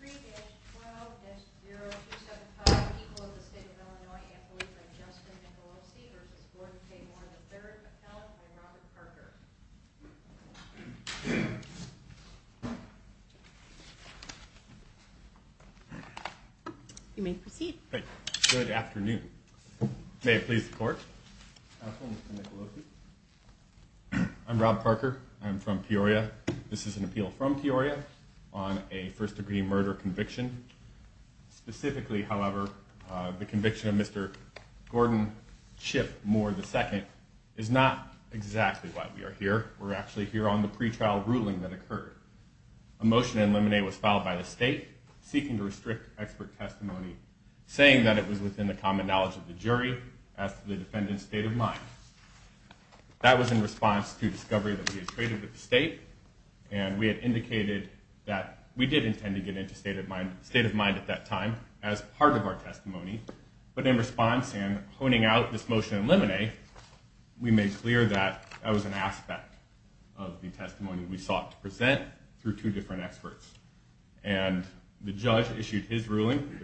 3-12-0275. People of the State of Illinois and believe in Justin Nicolosi v. Gordon K. Moore III. Appellant by Robert Parker. You may proceed. Good afternoon. May it please the Court? Appellant, Mr. Nicolosi. I'm Rob Parker. I'm from Peoria. This is an appeal from Peoria on a first-degree murder conviction. Specifically, however, the conviction of Mr. Gordon Chip Moore II is not exactly why we are here. We're actually here on the pretrial ruling that occurred. A motion to eliminate was filed by the State, seeking to restrict expert testimony, saying that it was within the common knowledge of the jury as to the defendant's state of mind. That was in response to discovery that we had traded with the State, and we had indicated that we did intend to get into state of mind at that time as part of our testimony. But in response and honing out this motion to eliminate, we made clear that that was an aspect of the testimony we sought to present through two different experts. And the judge issued his ruling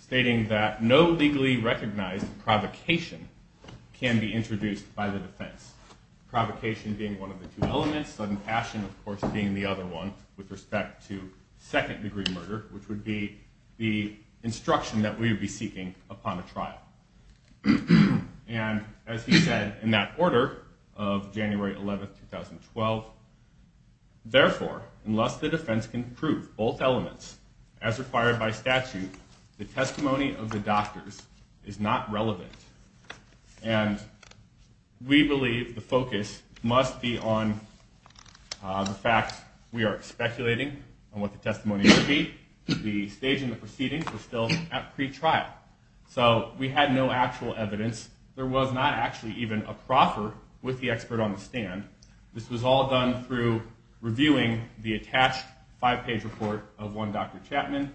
stating that no legally recognized provocation can be introduced by the defense, provocation being one of the two elements, sudden passion, of course, being the other one, with respect to second-degree murder, which would be the instruction that we would be seeking upon a trial. And as he said in that order of January 11, 2012, therefore, unless the defense can prove both elements, as required by statute, the testimony of the doctors is not relevant. And we believe the focus must be on the fact we are speculating on what the testimony will be. The stage in the proceedings is still at pretrial. So we had no actual evidence. There was not actually even a proffer with the expert on the stand. This was all done through reviewing the attached five-page report of one Dr. Chapman,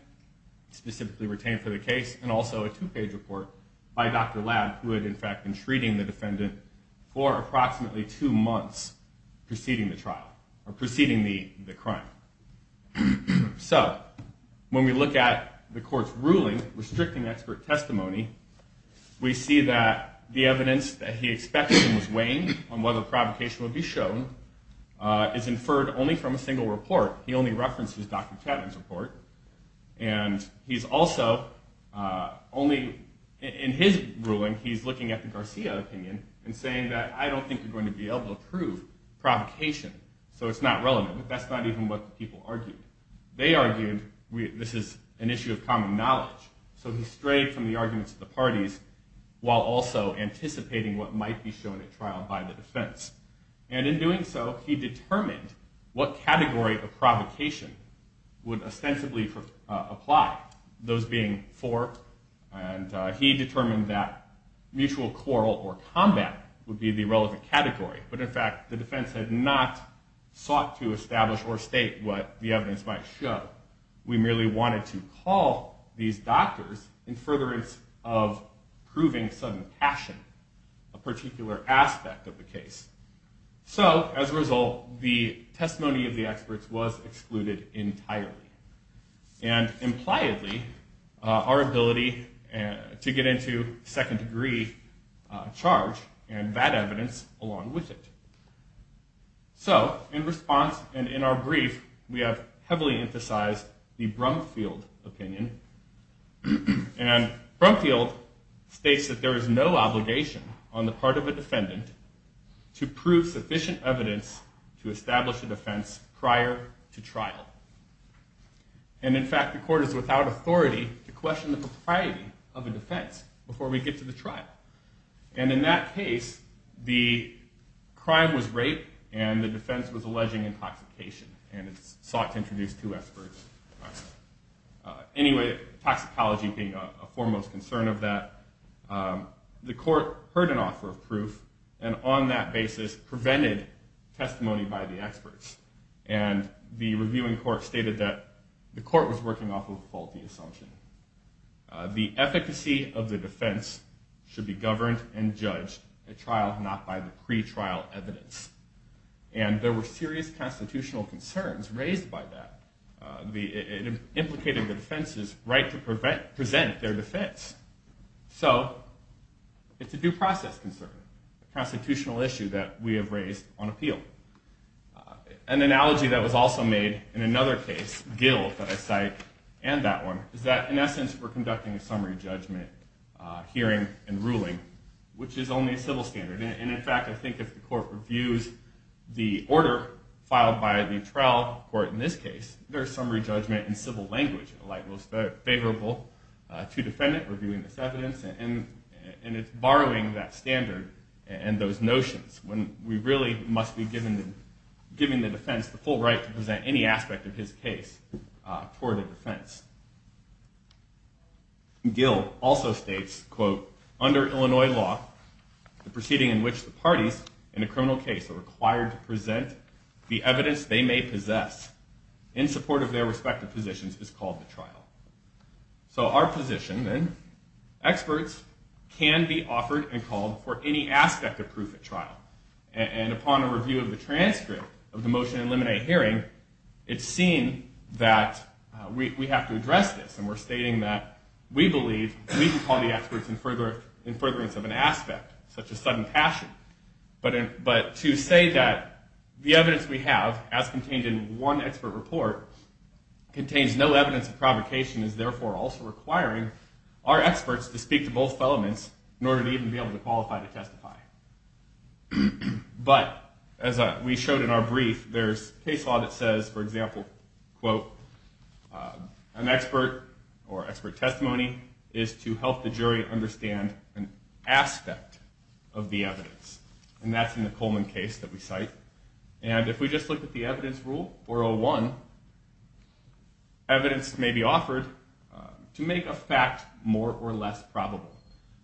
specifically retained for the case, and also a two-page report by Dr. Ladd, who had in fact been treating the defendant for approximately two months preceding the trial, or preceding the crime. So when we look at the court's ruling restricting expert testimony, we see that the evidence that he expected and was weighing on whether provocation would be shown is inferred only from a single report. He only references Dr. Chapman's report. And he's also only in his ruling, he's looking at the Garcia opinion and saying that I don't think we're going to be able to prove provocation. So it's not relevant. But that's not even what the people argued. They argued this is an issue of common knowledge. So he strayed from the arguments of the parties, while also anticipating what might be shown at trial by the defense. And in doing so, he determined what category of provocation would ostensibly apply, those being four. And he determined that mutual quarrel or combat would be the relevant category. But in fact, the defense had not sought to establish or state what the evidence might show. We merely wanted to call these doctors in furtherance of proving some action, a particular aspect of the case. So as a result, the testimony of the experts was excluded entirely. And impliedly, our ability to get into second degree charge and that evidence along with it. So in response and in our brief, we have heavily emphasized the Brumfield opinion. And Brumfield states that there is no obligation on the part of a defendant to prove sufficient evidence to establish a defense prior to trial. And in fact, the court is without authority to question the propriety of a defense before we get to the trial. And in that case, the crime was rape and the defense was alleging intoxication. And it sought to introduce two experts. Anyway, toxicology being a foremost concern of that. The court heard an offer of proof and on that basis prevented testimony by the experts. And the reviewing court stated that the court was working off of a faulty assumption. The efficacy of the defense should be governed and judged at trial, not by the pretrial evidence. And there were serious constitutional concerns raised by that. It implicated the defense's right to present their defense. So it's a due process concern, a constitutional issue that we have raised on appeal. An analogy that was also made in another case, Gill, that I cite, and that one, is that in essence we're conducting a summary judgment hearing and ruling, which is only a civil standard. And in fact, I think if the court reviews the order filed by the trial court in this case, there is summary judgment in civil language, in the light most favorable to defendant reviewing this evidence. And it's borrowing that standard and those notions when we really must be giving the defense the full right to present any aspect of his case toward a defense. Gill also states, quote, under Illinois law, the proceeding in which the parties in a criminal case are required to present the evidence they may possess in support of their respective positions is called the trial. So our position, then, experts can be offered and called for any aspect of proof at trial. And upon a review of the transcript of the motion in limine hearing, it's seen that we have to address this. And we're stating that we believe we can call the experts in furtherance of an aspect, such as sudden passion. But to say that the evidence we have, as contained in one expert report, contains no evidence of provocation is therefore also requiring our experts to speak to both elements in order to even be able to qualify to testify. But as we showed in our brief, there's case law that says, for example, quote, an expert or expert testimony is to help the jury understand an aspect of the evidence. And that's in the Coleman case that we cite. And if we just look at the evidence rule, 401, evidence may be offered to make a fact more or less probable.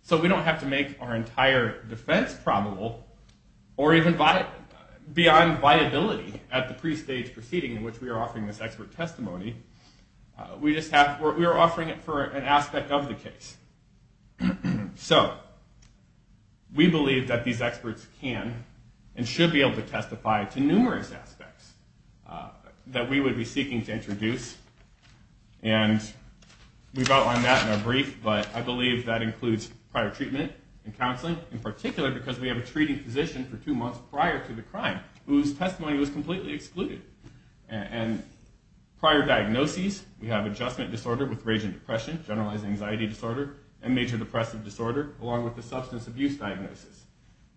So we don't have to make our entire defense probable or even beyond viability at the pre-stage proceeding in which we are offering this expert testimony. We are offering it for an aspect of the case. So we believe that these experts can and should be able to testify to numerous aspects that we would be seeking to introduce. And we've outlined that in our brief, but I believe that includes prior treatment and counseling, in particular because we have a treating physician for two months prior to the crime whose testimony was completely excluded. And prior diagnoses, we have adjustment disorder with rage and depression, generalized anxiety disorder, and major depressive disorder, along with a substance abuse diagnosis.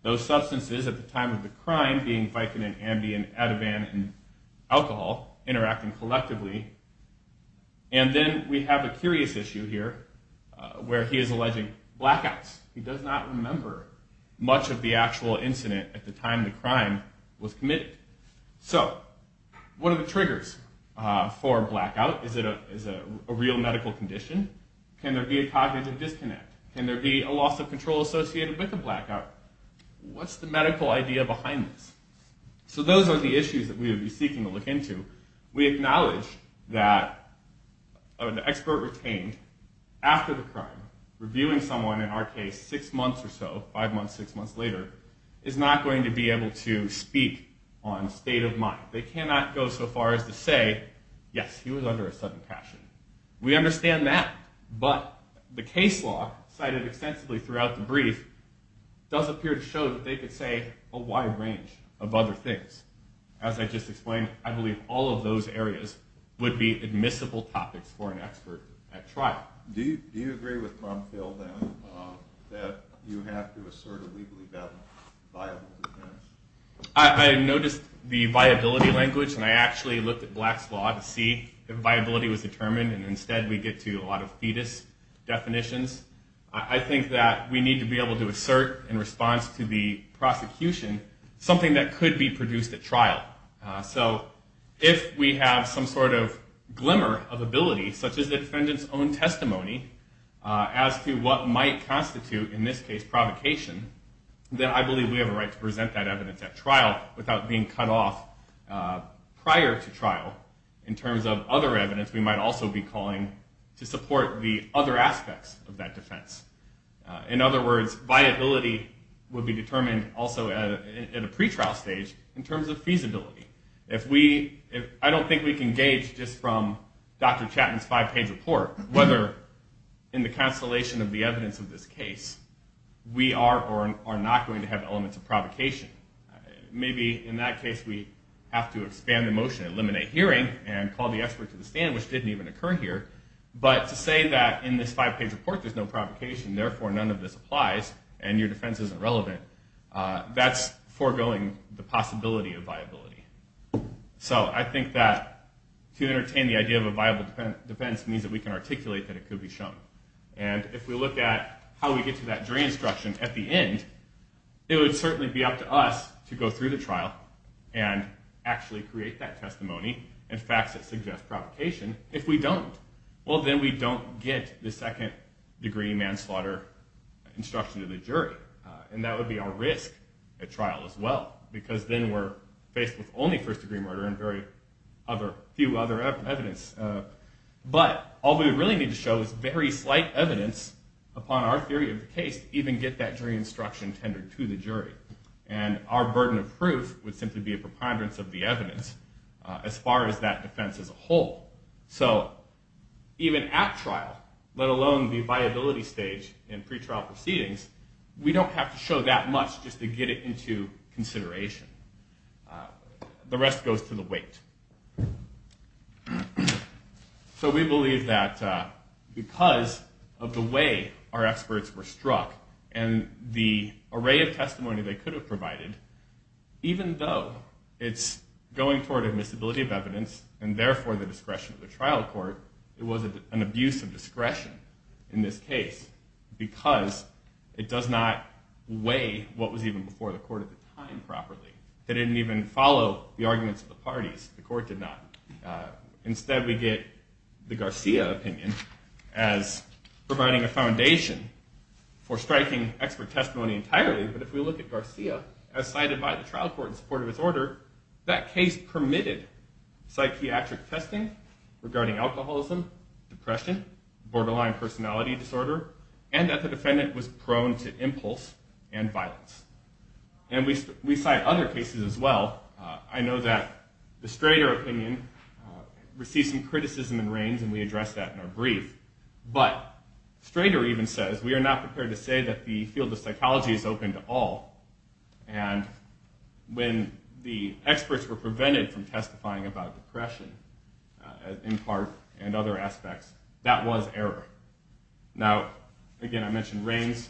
Those substances at the time of the crime being Vicodin, Ambien, Ativan, and alcohol interacting collectively. And then we have a curious issue here where he is alleging blackouts. He does not remember much of the actual incident at the time the crime was committed. So what are the triggers for a blackout? Is it a real medical condition? Can there be a cognitive disconnect? Can there be a loss of control associated with a blackout? What's the medical idea behind this? So those are the issues that we would be seeking to look into. We acknowledge that an expert retained after the crime, reviewing someone in our case six months or so, five months, six months later, is not going to be able to speak on state of mind. They cannot go so far as to say, yes, he was under a sudden passion. We understand that, but the case law cited extensively throughout the brief does appear to show that they could say a wide range of other things. As I just explained, I believe all of those areas would be admissible topics for an expert at trial. Do you agree with Tom Phill, then, that you have to assert a legally viable defense? I noticed the viability language, and I actually looked at Black's Law to see if viability was determined, and instead we get to a lot of fetus definitions. I think that we need to be able to assert, in response to the prosecution, something that could be produced at trial. So if we have some sort of glimmer of ability, such as the defendant's own testimony, as to what might constitute, in this case, provocation, then I believe we have a right to present that evidence at trial without being cut off prior to trial. In terms of other evidence, we might also be calling to support the other aspects of that defense. In other words, viability would be determined also at a pretrial stage in terms of feasibility. I don't think we can gauge, just from Dr. Chapman's five-page report, whether, in the constellation of the evidence of this case, we are or are not going to have elements of provocation. Maybe, in that case, we have to expand the motion, eliminate hearing, and call the expert to the stand, which didn't even occur here. But to say that, in this five-page report, there's no provocation, therefore none of this applies, and your defense isn't relevant, that's foregoing the possibility of viability. So I think that, to entertain the idea of a viable defense, means that we can articulate that it could be shown. And if we look at how we get to that jury instruction at the end, it would certainly be up to us to go through the trial and actually create that testimony and facts that suggest provocation. If we don't, well, then we don't get the second-degree manslaughter instruction to the jury. And that would be our risk at trial as well, because then we're faced with only first-degree murder and very few other evidence. But all we really need to show is very slight evidence upon our theory of the case to even get that jury instruction tendered to the jury. And our burden of proof would simply be a preponderance of the evidence as far as that defense as a whole. So even at trial, let alone the viability stage in pretrial proceedings, we don't have to show that much just to get it into consideration. The rest goes to the weight. So we believe that because of the way our experts were struck and the array of testimony they could have provided, even though it's going toward admissibility of evidence and therefore the discretion of the trial court, it was an abuse of discretion in this case because it does not weigh what was even before the court at the time properly. They didn't even follow the arguments of the parties. The court did not. Instead, we get the Garcia opinion as providing a foundation for striking expert testimony entirely. But if we look at Garcia, as cited by the trial court in support of his order, that case permitted psychiatric testing regarding alcoholism, depression, borderline personality disorder, and that the defendant was prone to impulse and violence. And we cite other cases as well. I know that the Strader opinion received some criticism and rains, and we addressed that in our brief. But Strader even says, we are not prepared to say that the field of psychology is open to all, and when the experts were prevented from testifying about depression in part and other aspects, that was error. Now, again, I mentioned rains.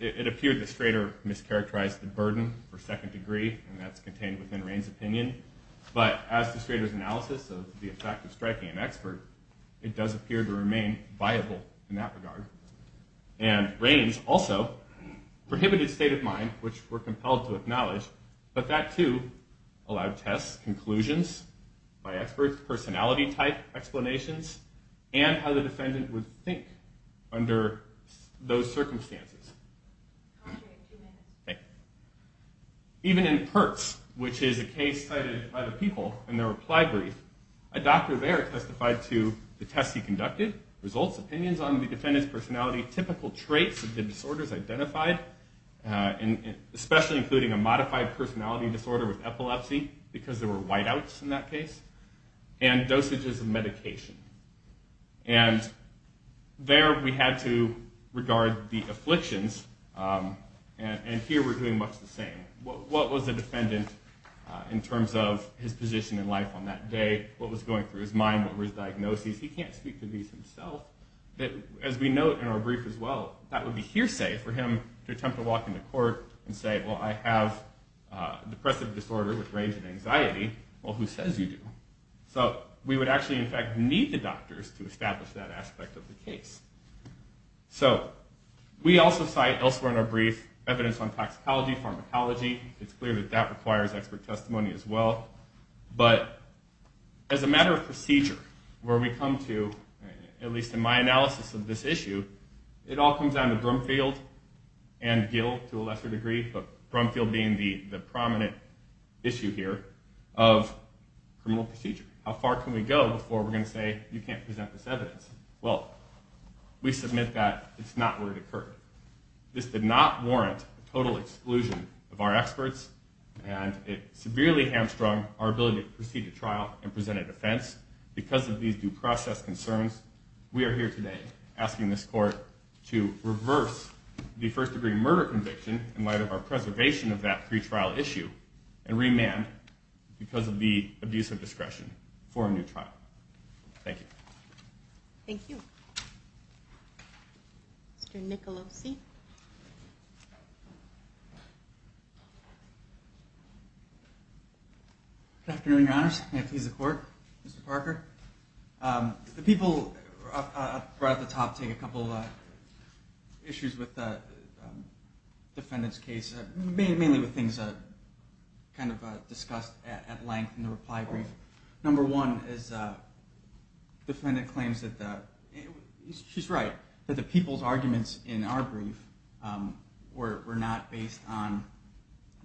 It appeared that Strader mischaracterized the burden for second degree, and that's contained within Rain's opinion. But as to Strader's analysis of the effect of striking an expert, it does appear to remain viable in that regard. And rains also prohibited state of mind, which we're compelled to acknowledge, but that too allowed tests, conclusions by experts, personality type explanations, and how the defendant would think under those circumstances. Even in Pertz, which is a case cited by the people in their reply brief, a doctor there testified to the tests he conducted, results, opinions on the defendant's personality, typical traits of the disorders identified, especially including a modified personality disorder with epilepsy, because there were whiteouts in that case, and dosages of medication. There we had to regard the afflictions, and here we're doing much the same. What was the defendant in terms of his position in life on that day? What was going through his mind? What were his diagnoses? He can't speak to these himself. As we note in our brief as well, that would be hearsay for him to attempt to walk into court and say, well, I have a depressive disorder with range and anxiety. Well, who says you do? So we would actually, in fact, need the doctors to establish that aspect of the case. We also cite elsewhere in our brief evidence on toxicology, pharmacology. It's clear that that requires expert testimony as well. But as a matter of procedure, where we come to, at least in my analysis of this issue, it all comes down to Brumfield and Gill to a lesser degree, but Brumfield being the prominent issue here of criminal procedure. How far can we go before we're going to say, you can't present this evidence? Well, we submit that it's not where it occurred. This did not warrant a total exclusion of our experts, and it severely hamstrung our ability to proceed to trial and present a defense. Because of these due process concerns, we are here today asking this court to reverse the first-degree murder conviction in light of our preservation of that pretrial issue and remand because of the abuse of discretion for a new trial. Thank you. Mr. Nicolosi. Good afternoon, Your Honors. May it please the Court. Mr. Parker. The people at the top take a couple issues with the defendant's case, mainly with things discussed at length in the reply brief. Number one is the defendant claims that, she's right, that the people's arguments in our brief were not based on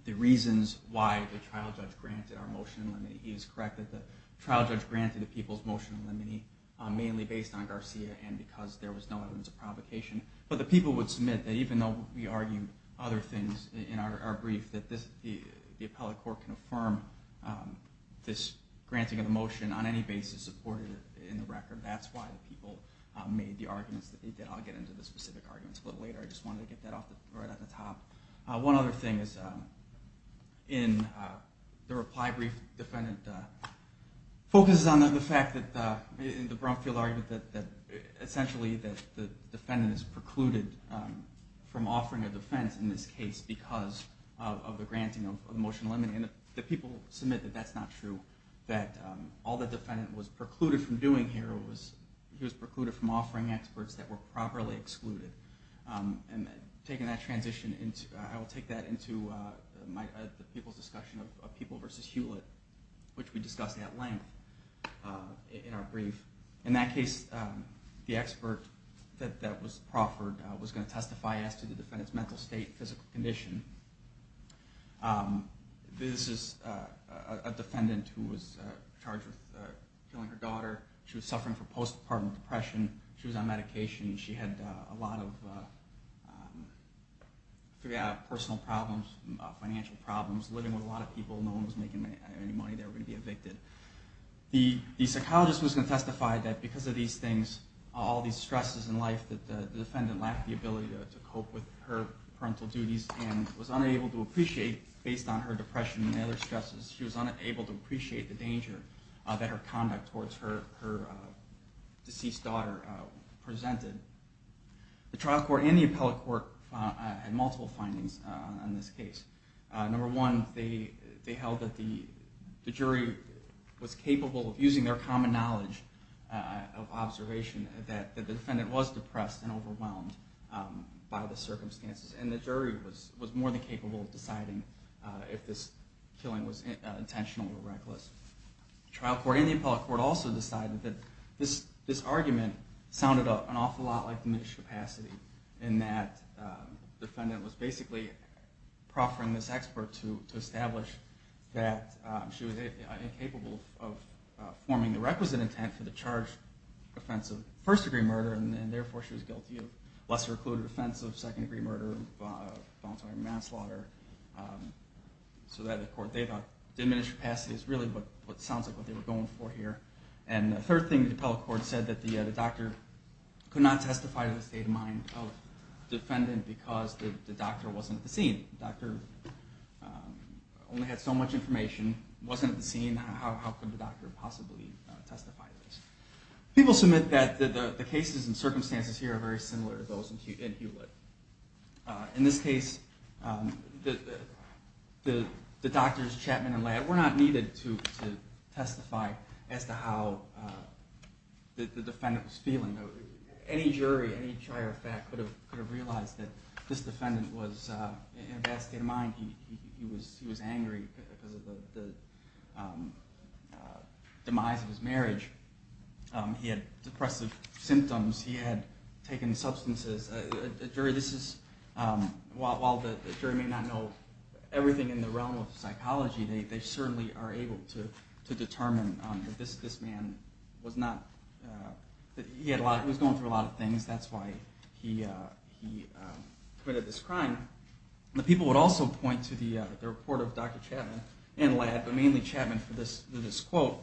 the reasons why the trial judge granted our motion in limine. He is correct that the trial judge granted the people's motion in limine mainly based on Garcia and because there was no evidence of provocation. But the people would submit that, even though we argued other things in our brief, that the appellate court can affirm this granting of the motion on any basis supported in the record. That's why the people made the arguments that they did. I'll get into the specific arguments a little later. I just wanted to get that right off the top. One other thing is in the reply brief, the defendant focuses on the fact that, in the Brumfield argument, that essentially the defendant is precluded from offering a defense in this case because of the granting of the motion in limine. The people submit that that's not true, that all the defendant was precluded from doing here was, he was precluded from offering experts that were and taking that transition, I will take that into the people's discussion of people versus Hewlett, which we discussed at length in our brief. In that case, the expert that was proffered was going to testify as to the defendant's mental state and physical condition. This is a defendant who was charged with killing her daughter. She was suffering from postpartum depression. She was on medication. She had a lot of personal problems, financial problems, living with a lot of people. No one was making any money. They were going to be evicted. The psychologist was going to testify that because of these things, all these stresses in life, that the defendant lacked the ability to cope with her parental duties and was unable to appreciate, based on her depression and other stresses, she was unable to appreciate the danger that her conduct towards her deceased daughter presented. The trial court and the appellate court had multiple findings on this case. Number one, they held that the jury was capable of using their common knowledge of observation that the defendant was depressed and overwhelmed by the circumstances and the jury was more than capable of deciding if this killing was intentional or reckless. The trial court and the appellate court also decided that this argument sounded an awful lot like diminished capacity, in that the defendant was basically proffering this expert to establish that she was incapable of forming the requisite intent for the charge of first-degree murder, and therefore she was guilty of lesser-included offense of second-degree murder, voluntary manslaughter. The court thought diminished capacity is really what sounds like what they were going for here. And the third thing, the appellate court said that the doctor could not testify to the state of mind of the defendant because the doctor wasn't at the scene. The doctor only had so much information, wasn't at the scene, how could the doctor possibly testify to this? People submit that the cases and circumstances here are very similar to those in Hewlett. In this case, the doctor's Chapman and Ladd were not needed to testify as to how the defendant was feeling. Any jury, any trier of fact could have realized that this defendant was in a bad state of mind. He was angry because of the demise of his marriage. He had depressive symptoms. He had taken substances. While the jury may not know everything in the realm of psychology, they certainly are able to determine that this man was going through a lot of things. That's why he committed this crime. The people would also point to the report of Dr. Chapman and Ladd, but mainly Chapman for this quote.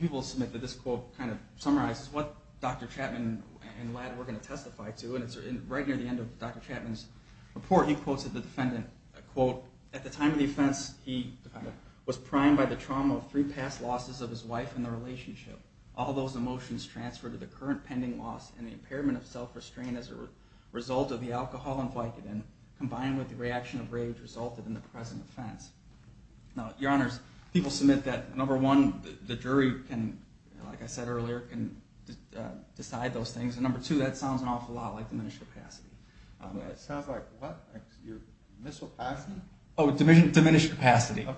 People submit that this quote kind of summarizes what Dr. Chapman and Ladd were going to testify to. And right near the end of Dr. Chapman's report, he quotes the defendant. He was primed by the trauma of three past losses of his wife and the relationship. All those emotions transferred to the current pending loss and the impairment of self-restraint as a result of the alcohol invited in, combined with the reaction of rage resulted in the present offense. People submit that, number one, the jury, like I said earlier, can decide those things. And number two, that sounds an awful lot like diminished capacity. It sounds like what? Missile capacity? Oh, diminished capacity.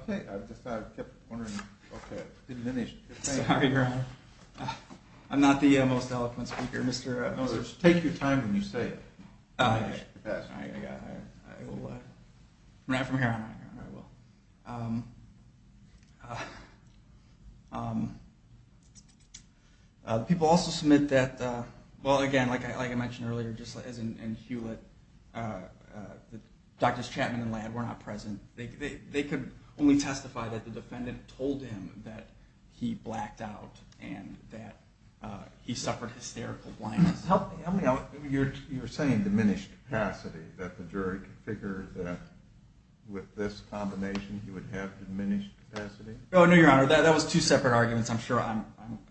Sorry, Your Honor. I'm not the most eloquent speaker. Take your time when you say diminished capacity. Right from here on out. People also submit that, well again, like I mentioned earlier, just as in Hewlett, Drs. Chapman and Ladd were not present. They could only testify that the defendant told him that he blacked out and that he suffered hysterical blindness. You're saying diminished capacity, that the jury could figure that with this combination, he would have diminished capacity? No, Your Honor. That was two separate arguments. I'm sure I'm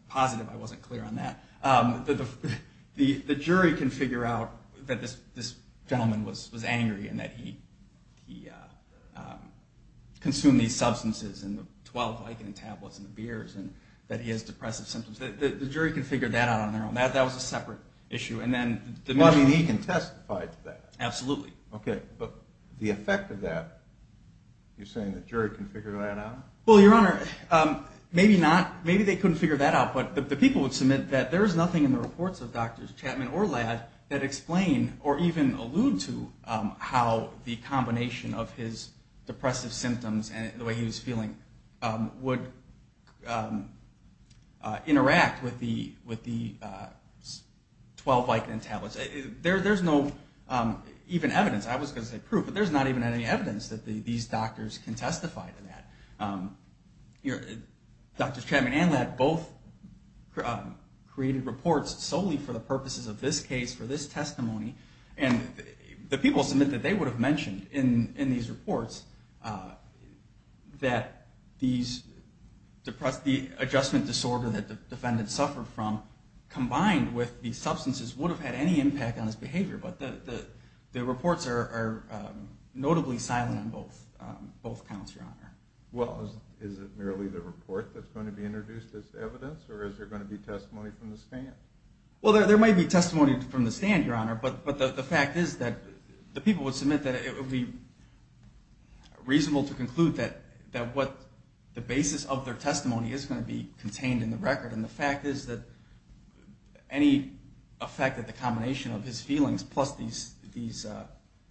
positive I wasn't clear on that. The jury can figure out that this gentleman was angry and that he consumed these substances and the 12 Vicodin tablets and the beers and that he has depressive symptoms. The jury can figure that out on their own. That was a separate issue. And then diminished capacity. Well, I mean, he can testify to that. Absolutely. Okay. But the effect of that, you're saying the jury can figure that out? Well, Your Honor, maybe not. Maybe they couldn't figure that out. But the people would submit that there is nothing in the reports of Drs. Chapman or Ladd that explain or even allude to how the combination of his depressive symptoms and the way he was feeling would interact with the 12 Vicodin tablets. There's no even evidence. I was going to say proof, but there's not even any evidence that these doctors can testify to that. Drs. Chapman and Ladd both created reports solely for the purposes of this case, for this testimony. And the people submit that they would have mentioned in these reports that the adjustment disorder that the defendant suffered from combined with the substances would have had any impact on his behavior. But the reports are notably silent on both accounts, Your Honor. Well, is it merely the report that's going to be introduced as evidence, or is there going to be testimony from the stand? Well, there might be testimony from the stand, Your Honor, but the fact is that the people would submit that it would be reasonable to conclude that what the basis of their testimony is going to be contained in the record. And the fact is that any effect of the combination of his feelings plus these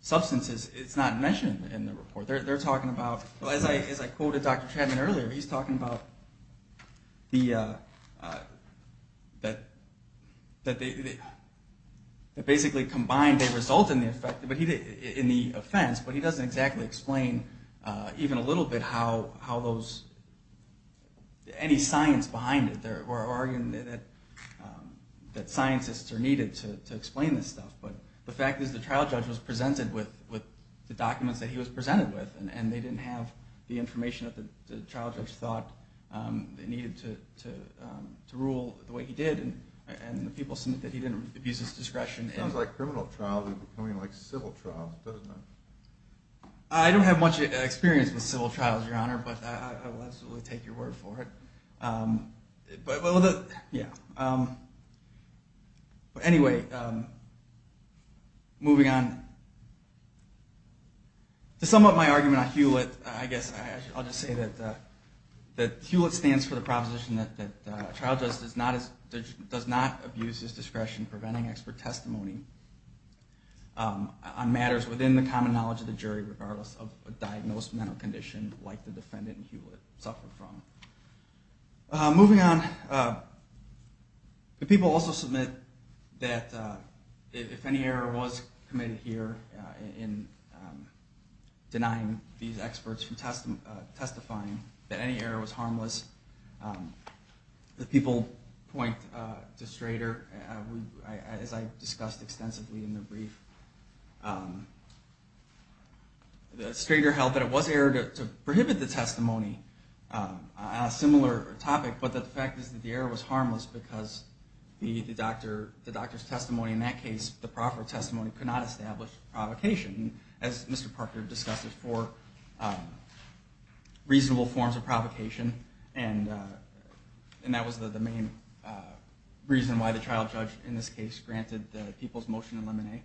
substances is not mentioned in the report. They're talking about, as I quoted Dr. Chapman earlier, he's talking about that basically combined they result in the offense, but he doesn't exactly explain even a little bit how those any science behind it, or arguing that scientists are needed to explain this stuff. But the fact is the trial judge was presented with, and they didn't have the information that the trial judge thought they needed to rule the way he did. And the people submit that he didn't abuse his discretion. It sounds like criminal trials are becoming like civil trials, doesn't it? I don't have much experience with civil trials, Your Honor, but I will absolutely take your word for it. But anyway, moving on. To sum up my argument on Hewlett, I guess I'll just say that Hewlett stands for the proposition that a trial judge does not abuse his discretion preventing expert testimony on matters within the common knowledge of the jury, regardless of a diagnosed mental condition like the defendant in Hewlett suffered from. Moving on, the people also submit that if any error was committed here in denying these experts from testifying that any error was harmless, the people point to Strader, as I discussed extensively in the brief. Strader held that it was an error to prohibit the testimony. A similar topic, but the fact is that the error was harmless because the doctor's testimony in that case, the proper testimony, could not establish provocation. As Mr. Parker discussed, there's four reasonable forms of provocation, and that was the main reason why the trial judge in this case granted the people's motion to eliminate.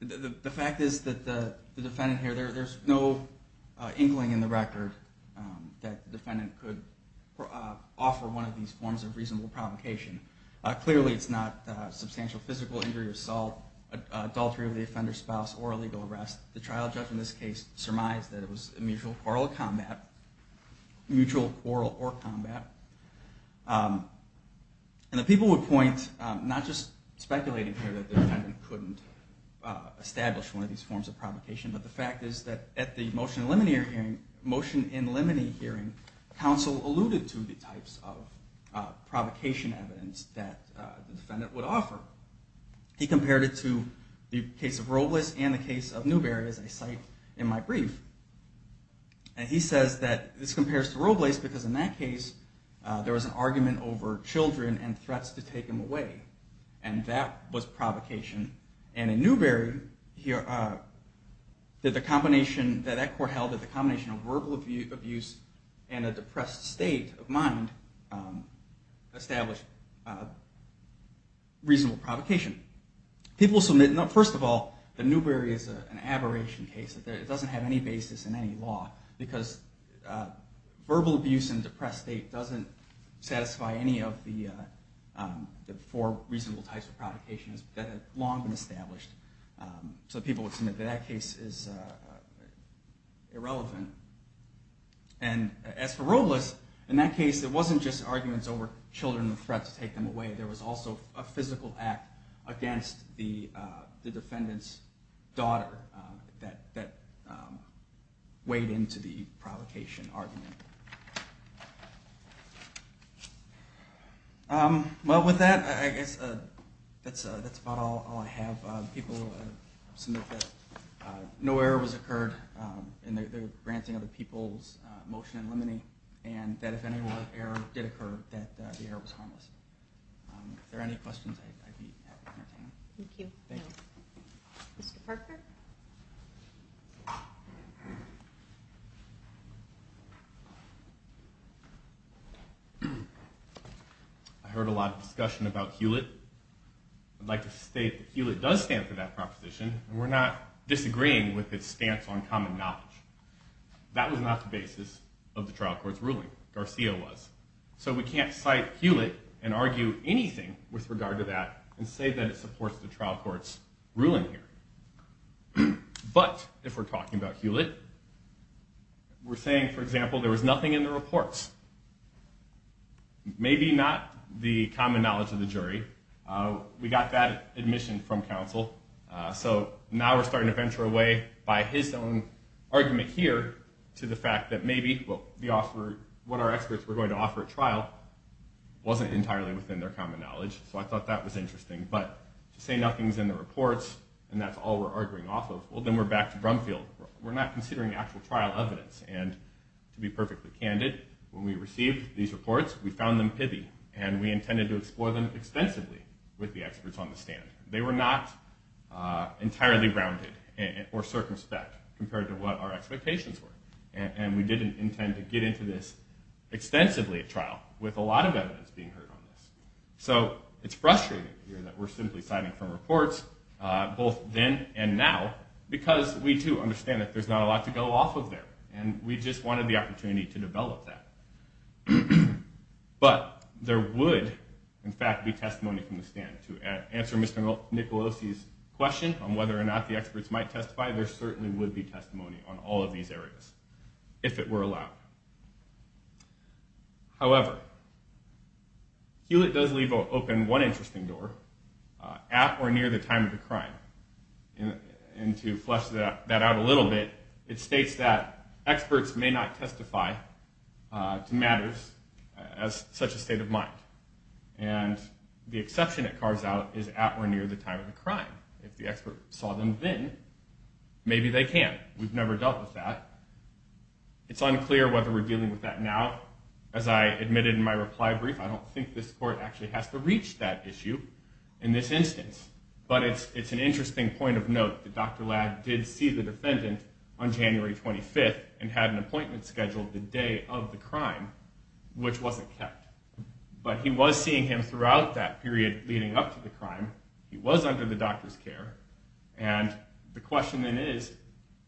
The fact is that the defendant here, there's no inkling in the record that the defendant could offer one of these forms of reasonable provocation. Clearly, it's not substantial physical injury or assault, adultery of the offender's spouse, or illegal arrest. The trial judge in this case surmised that it was a mutual quarrel or combat. And the people would point, not just speculating here that the defendant couldn't establish one of these forms of provocation, but the fact is that at the motion in limine hearing, counsel alluded to the types of provocation evidence that the defendant would offer. He compared it to the case of Robles and the case of Newberry, as I cite in my brief. And he says that this compares to Robles because in that case, there was an argument over children and threats to take them away. And that was provocation. And in Newberry, the combination that that court held that the combination of verbal abuse and a depressed state of mind established reasonable provocation. First of all, the Newberry is an aberration case. It doesn't have any basis in any law because verbal abuse and depressed state doesn't satisfy any of the four reasonable types of provocations that have long been established. So people would submit that that case is irrelevant. And as for Robles, in that case, it wasn't just arguments over children and threats to take them away. There was also a physical act against the defendant's daughter that weighed into the provocation argument. Well, with that, I guess that's about all I have. People submit that no error was occurred in the granting of the people's motion in limine, and that if any more error did occur, that the error was harmless. If there are any questions, I'd be happy to entertain them. Thank you. Mr. Parker? I heard a lot of discussion about Hewlett. I'd like to state that Hewlett does stand for that proposition. We're not disagreeing with its stance on common knowledge. That was not the basis of the trial court's ruling. Garcia was. So we can't cite Hewlett and argue anything with regard to that and say that it supports the trial court's ruling here. But if we're talking about Hewlett, we're saying, for example, there was nothing in the reports. Maybe not the common knowledge of the jury. We got that admission from counsel. So now we're starting to venture away by his own argument here to the fact that maybe what our experts were going to offer at trial wasn't entirely within their common knowledge. So I thought that was interesting. But to say nothing's in the reports and that's all we're arguing off of, well, then we're back to Brumfield. We're not considering actual trial evidence. And to be perfectly candid, when we received these reports, we found them pithy. And we intended to explore them extensively with the experts on the stand. They were not entirely grounded or circumspect compared to what our expectations were. And we didn't intend to get into this extensively at trial with a lot of evidence being heard on this. So it's frustrating here that we're simply citing from reports, both then and now, because we, too, understand that there's not a lot to go off of there. And we just wanted the opportunity to develop that. But there would, in fact, be testimony from the stand. To answer Mr. Nicolosi's question on whether or not the experts might testify, there certainly would be testimony on all of these areas, if it were allowed. However, Hewlett does leave open one interesting door at or near the time of the crime. And to flesh that out a little bit, it states that experts may not testify to matters as such a state of mind. And the exception it carves out is at or near the time of the crime. If the expert saw them then, maybe they can. We've never dealt with that. It's unclear whether we're dealing with that now. As I admitted in my reply brief, I don't think this Court actually has to reach that issue in this instance. But it's an interesting point of note that Dr. Ladd did see the defendant on January 25th and had an appointment scheduled the day of the crime, which wasn't kept. But he was seeing him throughout that period leading up to the crime. He was under the doctor's care. And the question then is,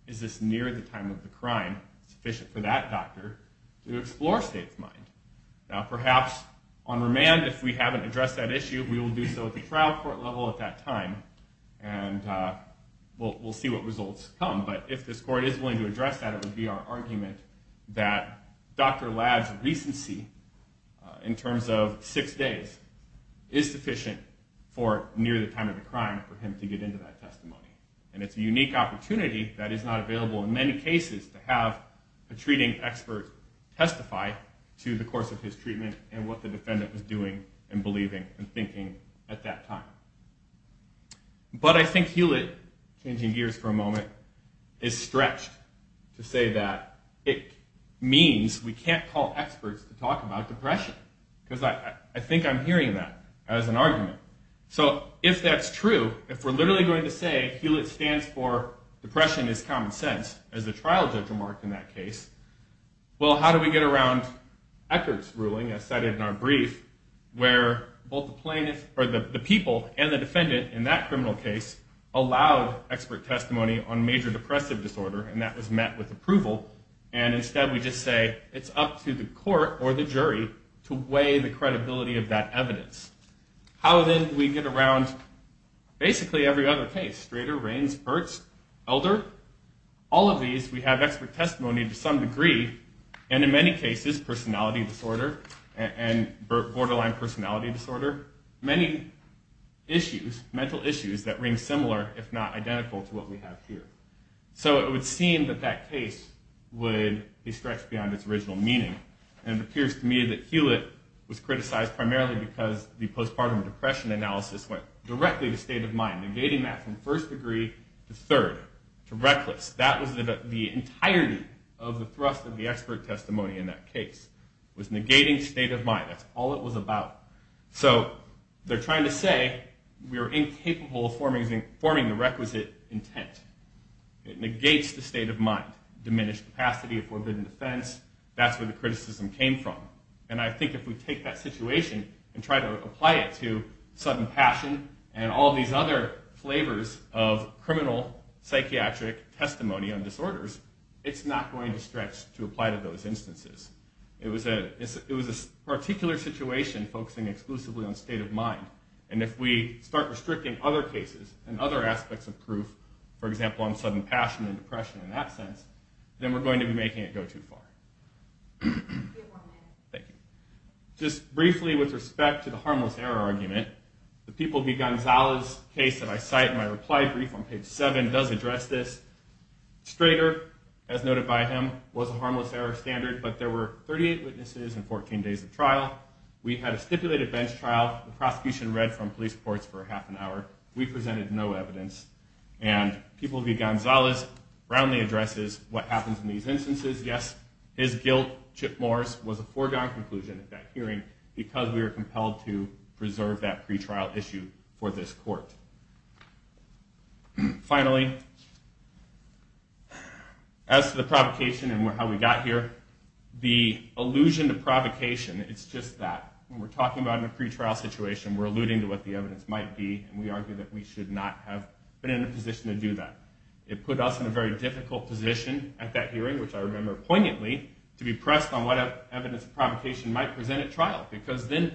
is this near the time of the crime sufficient for that doctor to explore state of mind? Now perhaps on remand, if we haven't addressed that issue, we will do so at the trial court level at that time. And we'll see what results come. But if this Court is willing to address that, it would be our argument that Dr. Ladd's recency in terms of six days is sufficient for near the time of the crime for him to get into that testimony. And it's a unique opportunity that is not available in many cases to have a treating expert testify to the course of his treatment and what the defendant was doing and believing and thinking at that time. But I think Hewlett changing gears for a moment, is stretched to say that it means we can't call experts to talk about depression. Because I think I'm hearing that as an argument. So if that's true, if we're literally going to say Hewlett stands for depression is common sense, as the trial judge remarked in that case, well how do we get around Eckert's ruling as cited in our brief where both the plaintiff, or the people and the defendant in that criminal case, allowed expert testimony on major depressive disorder, and that was met with approval, and instead we just say it's up to the Court or the jury to weigh the credibility of that evidence. How then do we get around basically every other case? Strader, Raines, Burt's, Elder. All of these we have expert testimony to some degree, and in many cases personality disorder and borderline personality disorder. Many issues, mental issues that ring similar if not identical to what we have here. So it would seem that that case would be stretched beyond its original meaning, and it appears to me that Hewlett was criticized primarily because the postpartum depression analysis went directly to state of mind, negating that from first degree to third, to reckless. That was the entirety of the thrust of the expert testimony in that case, was negating state of mind. That's all it was about. So they're trying to say we are incapable of forming the requisite intent. It negates the state of mind. Diminished capacity of forbidden defense. That's where the criticism came from. And I think if we take that situation and try to apply it to sudden passion and all these other flavors of criminal psychiatric testimony on disorders, it's not going to stretch to apply to those instances. It was a particular situation focusing exclusively on state of mind, and if we start restricting other cases and other aspects of proof, for example on sudden passion and depression in that sense, then we're going to be making it go too far. Just briefly with respect to the harmless error argument, the people V. Gonzalez case that I cite in my reply brief on page seven does address this. Strader, as noted by him, was a harmless error standard, but there were 38 witnesses and 14 days of trial. We had a stipulated bench trial. The prosecution read from police reports for half an hour. We presented no evidence. And people V. Gonzalez roundly addresses what happens in these instances. Yes, his guilt, Chip Moore's, was a foregone conclusion at that hearing because we were compelled to preserve that pretrial issue for this court. Finally, as to the provocation and how we got here, the allusion to provocation, it's just that when we're talking about a pretrial situation, we're alluding to what the evidence might be, and we argue that we should not have been in a position to do that. It put us in a very difficult position at that hearing, which I remember poignantly, to be pressed on what evidence of provocation might present at trial because then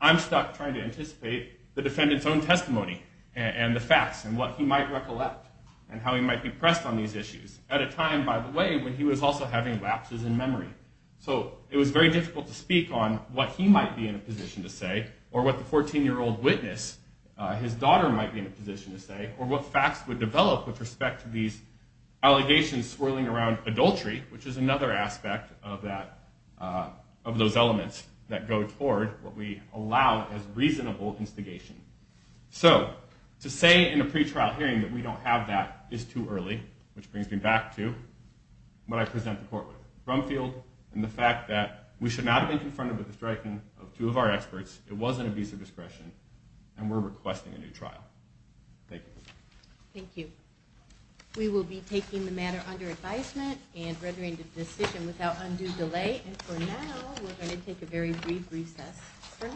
I'm stuck trying to anticipate the defendant's own testimony and the facts and what he might recollect and how he might be pressed on these issues at a time, by the way, when he was also having lapses in memory. So it was very difficult to speak on what he might be in a position to say or what the 14-year-old witness, his daughter, might be in a position to say or what facts would develop with respect to these allegations swirling around adultery, which is another aspect of those elements that go toward what we allow as reasonable instigation. So to say in a pretrial hearing that we don't have that is too early, which brings me back to what I present the court with. Brumfield and the fact that we should not have been confronted with the striking of two of our experts, it was an abuse of discretion, and we're requesting a new trial. Thank you. We will be taking the matter under advisement and rendering the decision without undue delay. And for now, we're going to take a very brief recess.